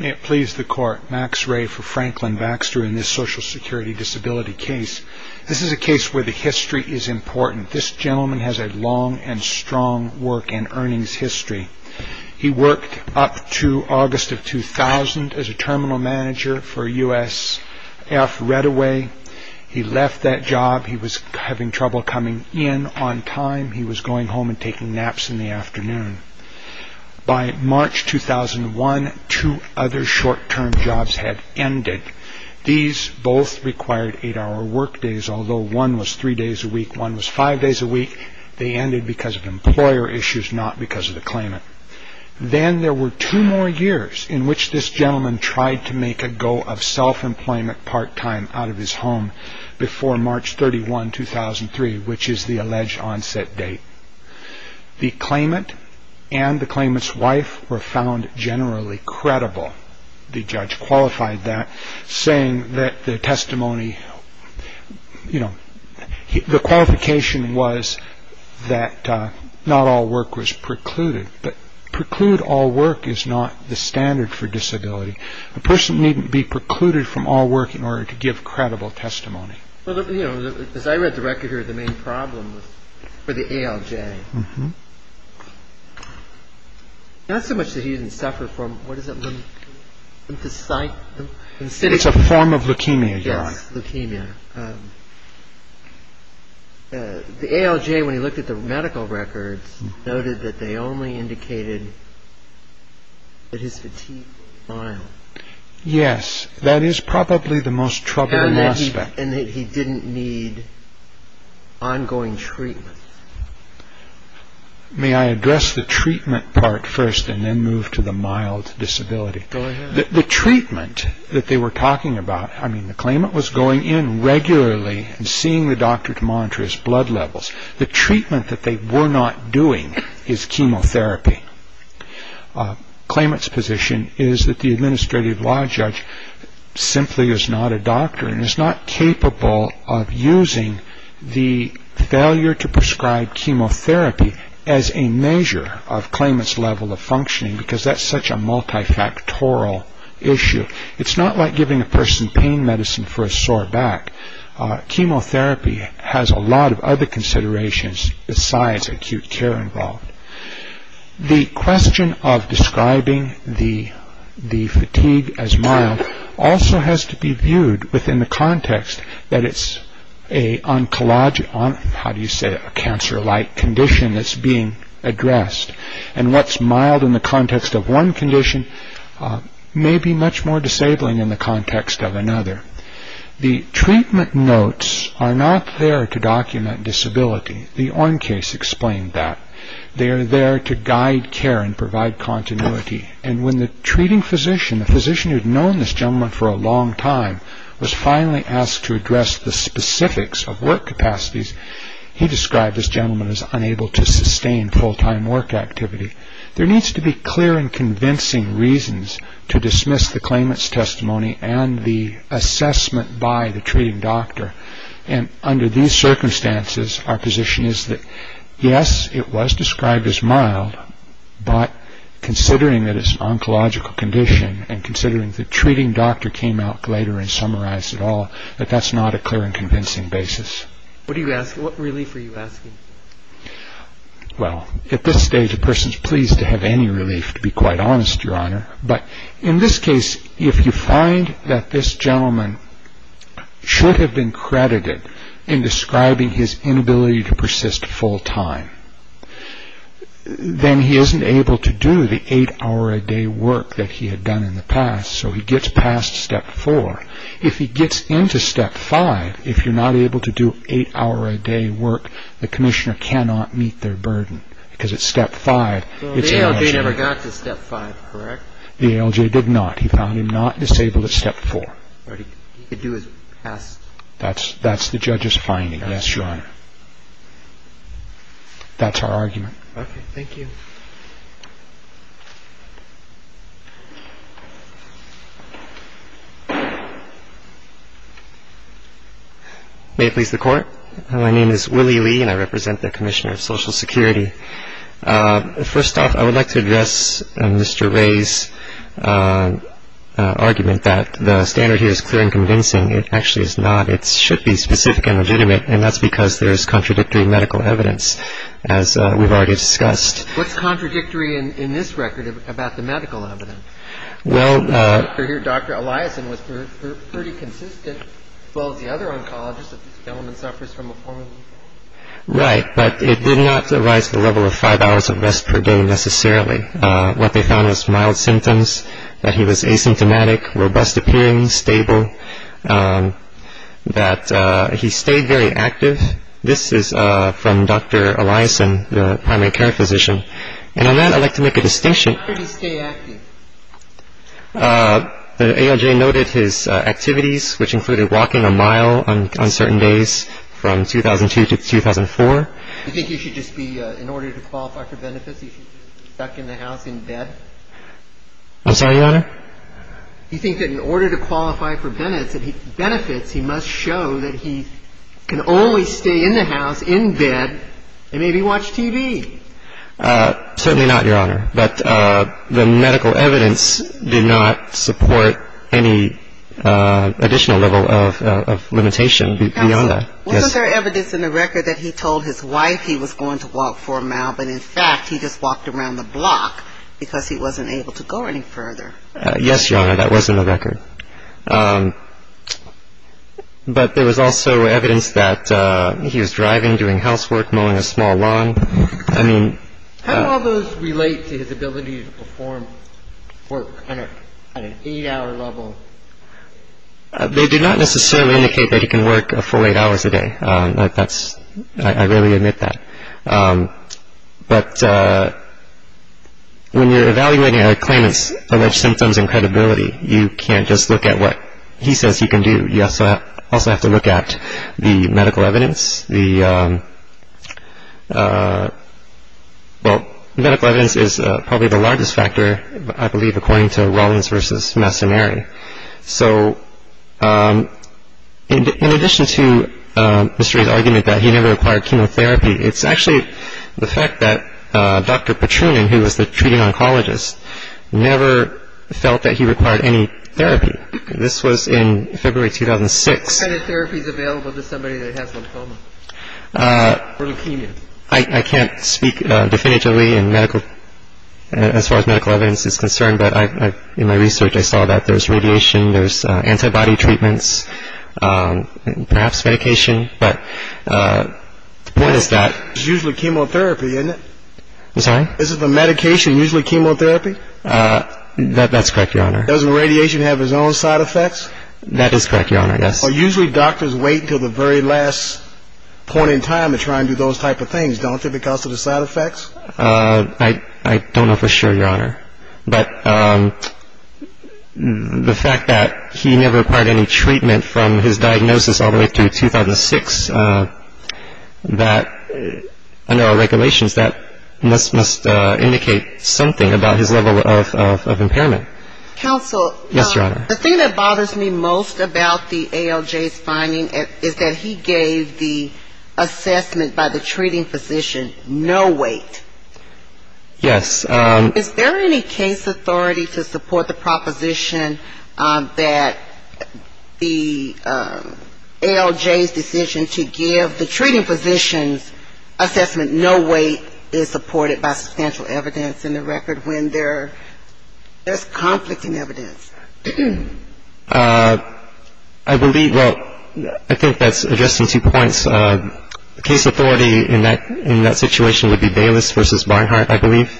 May it please the Court, Max Ray for Franklin Baxter in this Social Security Disability case. This is a case where the history is important. This gentleman has a long and strong work and earnings history. He worked up to August of 2000 as a Terminal Manager for USF Redaway. He left that job. He was having trouble coming in on time. He was going home and taking naps in the afternoon. By March 2001, two other short-term jobs had ended. These both required eight-hour work days, although one was three days a week, one was five days a week. They ended because of employer issues, not because of the claimant. Then there were two more years in which this gentleman tried to make a go of self-employment part-time out of his home before March 31, 2003, which is the alleged onset date. The claimant and the claimant's wife were found generally credible. The judge qualified that, saying that the testimony, you know, the qualification was that not all work was precluded. But preclude all work is not the standard for disability. A person needn't be precluded from all work in order to give credible testimony. Well, you know, as I read the record here, the main problem was for the ALJ. Not so much that he didn't suffer from, what is it, lymphocyte? It's a form of leukemia, yes. Yes, leukemia. The ALJ, when he looked at the medical records, noted that they only indicated that his fatigue was mild. Yes, that is probably the most troubling aspect. And that he didn't need ongoing treatment. May I address the treatment part first and then move to the mild disability? Go ahead. The treatment that they were talking about, I mean, the claimant was going in regularly and seeing the doctor to monitor his blood levels. The treatment that they were not doing is chemotherapy. Claimant's position is that the administrative law judge simply is not a doctor and is not capable of using the failure to prescribe chemotherapy as a measure of claimant's level of functioning because that's such a multifactorial issue. It's not like giving a person pain medicine for a sore back. Chemotherapy has a lot of other considerations besides acute care involved. The question of describing the fatigue as mild also has to be viewed within the context that it's a cancer-like condition that's being addressed. And what's mild in the context of one condition may be much more disabling in the context of another. The treatment notes are not there to document disability. The Orme case explained that. They are there to guide care and provide continuity. And when the treating physician, the physician who had known this gentleman for a long time, was finally asked to address the specifics of work capacities, he described this gentleman as unable to sustain full-time work activity. There needs to be clear and convincing reasons to dismiss the claimant's testimony and the assessment by the treating doctor. And under these circumstances, our position is that, yes, it was described as mild, but considering that it's an oncological condition and considering the treating doctor came out later and summarized it all, that that's not a clear and convincing basis. What relief are you asking? Well, at this stage, a person's pleased to have any relief, to be quite honest, Your Honor. But in this case, if you find that this gentleman should have been credited in describing his inability to persist full-time, then he isn't able to do the eight-hour-a-day work that he had done in the past, so he gets past Step 4. If he gets into Step 5, if you're not able to do eight-hour-a-day work, the commissioner cannot meet their burden because it's Step 5. Well, the ALJ never got to Step 5, correct? The ALJ did not. He found him not disabled at Step 4. But he could do his past... That's the judge's finding, yes, Your Honor. That's our argument. Okay. Thank you. May it please the Court. My name is Willie Lee, and I represent the Commissioner of Social Security. First off, I would like to address Mr. Ray's argument that the standard here is clear and convincing. It actually is not. It should be specific and legitimate, and that's because there is contradictory medical evidence, as we've already discussed. What's contradictory in this record about the medical evidence? Well... Dr. Eliason was pretty consistent, as well as the other oncologists, that this gentleman suffers from a form of... Right, but it did not arise at the level of 5 hours of rest per day, necessarily. What they found was mild symptoms, that he was asymptomatic, robust-appearing, stable, that he stayed very active. This is from Dr. Eliason, the primary care physician. And on that, I'd like to make a distinction. How could he stay active? The AIJ noted his activities, which included walking a mile on certain days from 2002 to 2004. Do you think he should just be, in order to qualify for benefits, he should just be stuck in the house in bed? I'm sorry, Your Honor? Do you think that in order to qualify for benefits, he must show that he can only stay in the house in bed and maybe watch TV? Certainly not, Your Honor. But the medical evidence did not support any additional level of limitation beyond that. Counsel, wasn't there evidence in the record that he told his wife he was going to walk for a mile, but in fact he just walked around the block because he wasn't able to go any further? Yes, Your Honor, that was in the record. But there was also evidence that he was driving, doing housework, mowing a small lawn. How do all those relate to his ability to perform work on an eight-hour level? They do not necessarily indicate that he can work a full eight hours a day. I really admit that. But when you're evaluating a claimant's alleged symptoms and credibility, you can't just look at what he says he can do. You also have to look at the medical evidence. Well, medical evidence is probably the largest factor, I believe, according to Rawlings v. Massimeri. So in addition to Mr. Ray's argument that he never required chemotherapy, it's actually the fact that Dr. Petrunian, who was the treating oncologist, never felt that he required any therapy. This was in February 2006. What kind of therapy is available to somebody that has lymphoma or leukemia? I can't speak definitively as far as medical evidence is concerned, but in my research I saw that there's radiation, there's antibody treatments, perhaps medication. But the point is that- It's usually chemotherapy, isn't it? I'm sorry? Is the medication usually chemotherapy? That's correct, Your Honor. Doesn't radiation have its own side effects? That is correct, Your Honor, yes. So usually doctors wait until the very last point in time to try and do those type of things, don't they, because of the side effects? I don't know for sure, Your Honor. But the fact that he never required any treatment from his diagnosis all the way through 2006, under our regulations that must indicate something about his level of impairment. Counsel. Yes, Your Honor. The thing that bothers me most about the ALJ's finding is that he gave the assessment by the treating physician no weight. Yes. And is there any case authority to support the proposition that the ALJ's decision to give the treating physician's assessment no weight is supported by substantial evidence in the record when there's conflict in evidence? I believe, well, I think that's addressing two points. The case authority in that situation would be Bayless v. Barnhart, I believe.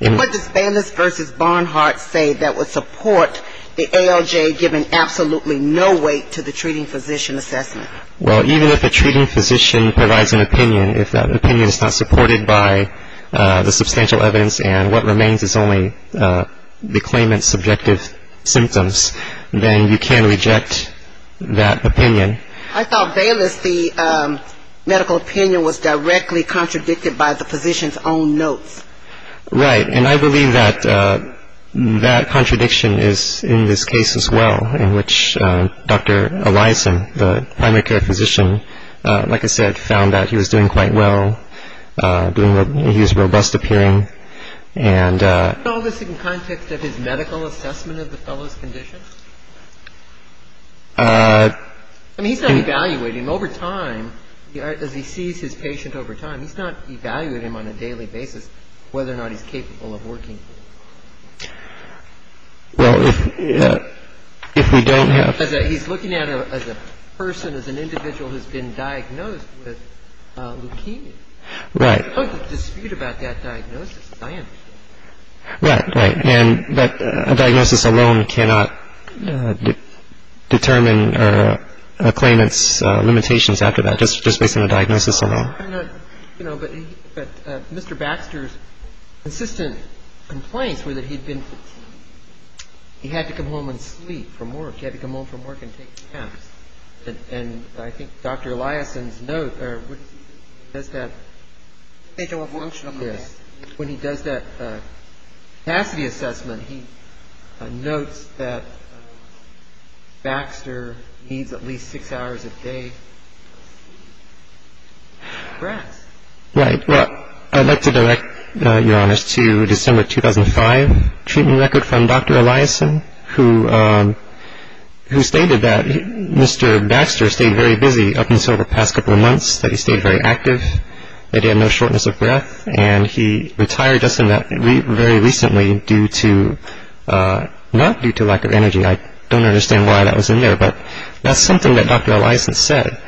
What does Bayless v. Barnhart say that would support the ALJ giving absolutely no weight to the treating physician assessment? Well, even if a treating physician provides an opinion, if that opinion is not supported by the substantial evidence and what remains is only the claimant's subjective symptoms, then you can reject that opinion. I thought Bayless v. Medical Opinion was directly contradicted by the physician's own notes. Right. And I believe that that contradiction is in this case as well, in which Dr. Eliason, the primary care physician, like I said, found that he was doing quite well. He was robust appearing. All this in context of his medical assessment of the fellow's condition? I mean, he's not evaluating him over time, as he sees his patient over time. He's not evaluating him on a daily basis whether or not he's capable of working. Well, if we don't have- He's looking at him as a person, as an individual who's been diagnosed with leukemia. Right. There's no dispute about that diagnosis, as I understand it. Right, right. And that a diagnosis alone cannot determine a claimant's limitations after that, just based on a diagnosis alone. I don't know. You know, but Mr. Baxter's consistent complaints were that he had to come home and sleep from work. He had to come home from work and take naps. And I think Dr. Eliason's note does that. When he does that capacity assessment, he notes that Baxter needs at least six hours a day of rest. Right. Well, I'd like to direct, Your Honors, to December 2005 treatment record from Dr. Eliason, who stated that Mr. Baxter stayed very busy up until the past couple of months, that he stayed very active, that he had no shortness of breath. And he retired us in that very recently due to-not due to lack of energy. I don't understand why that was in there, but that's something that Dr. Eliason said.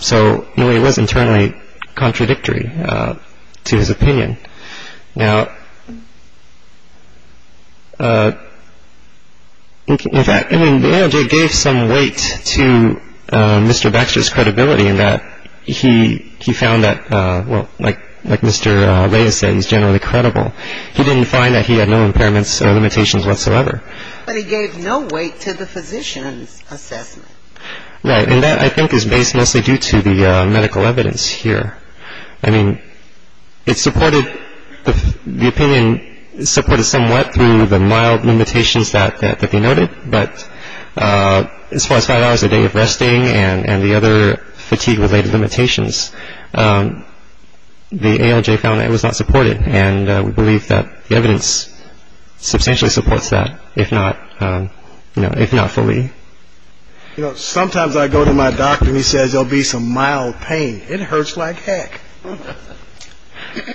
So, in a way, it was internally contradictory to his opinion. Now, in fact, I mean, it gave some weight to Mr. Baxter's credibility in that he found that, well, like Mr. Reyes said, he's generally credible. He didn't find that he had no impairments or limitations whatsoever. But he gave no weight to the physician's assessment. Right. And that, I think, is based mostly due to the medical evidence here. I mean, it supported-the opinion supported somewhat through the mild limitations that he noted. But as far as five hours a day of resting and the other fatigue-related limitations, the ALJ found that it was not supported. And we believe that the evidence substantially supports that, if not fully. You know, sometimes I go to my doctor and he says, there'll be some mild pain. It hurts like heck.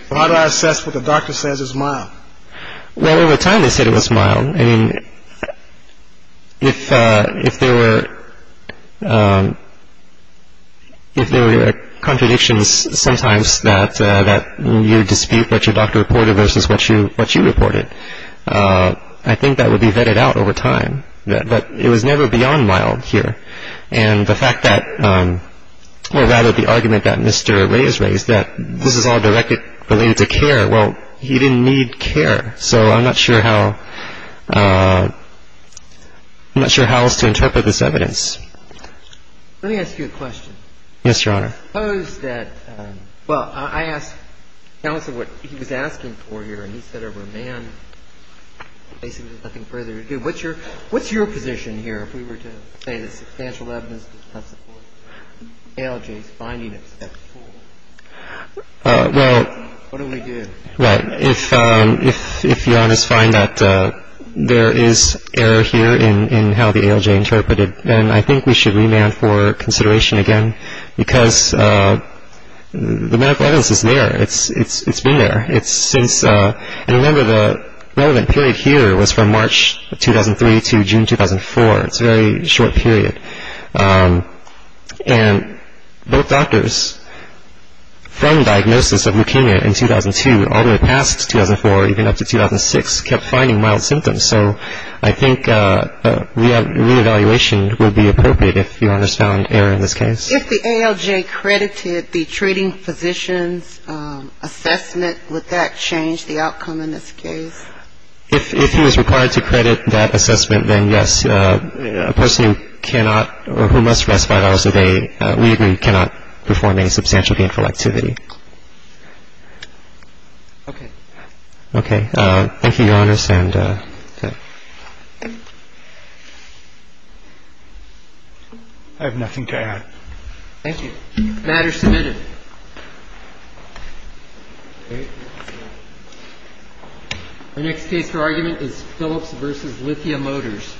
How do I assess what the doctor says is mild? Well, over time, they said it was mild. I mean, if there were contradictions sometimes that you dispute what your doctor reported versus what you reported, I think that would be vetted out over time. But it was never beyond mild here. And the fact that-or rather the argument that Mr. Reyes raised, that this is all related to care. Well, he didn't need care. So I'm not sure how-I'm not sure how else to interpret this evidence. Let me ask you a question. Yes, Your Honor. Suppose that-well, I asked counsel what he was asking for here. And he said, over a man, basically there's nothing further to do. What's your position here if we were to say that substantial evidence does not support ALJ's finding except four? Well- What do we do? Right. If Your Honor's find that there is error here in how the ALJ interpreted, then I think we should remand for consideration again because the medical evidence is there. It's been there. It's since-and remember the relevant period here was from March 2003 to June 2004. It's a very short period. And both doctors, from diagnosis of leukemia in 2002 all the way past 2004, even up to 2006, kept finding mild symptoms. So I think re-evaluation would be appropriate if Your Honor's found error in this case. If the ALJ credited the treating physician's assessment, would that change the outcome in this case? If he was required to credit that assessment, then yes. A person who cannot or who must rest five hours a day, we agree, cannot perform any substantial gainful activity. Okay. Okay. Thank you, Your Honors. And- I have nothing to add. Thank you. Matter submitted. Our next case for argument is Phillips v. Lithia Motors.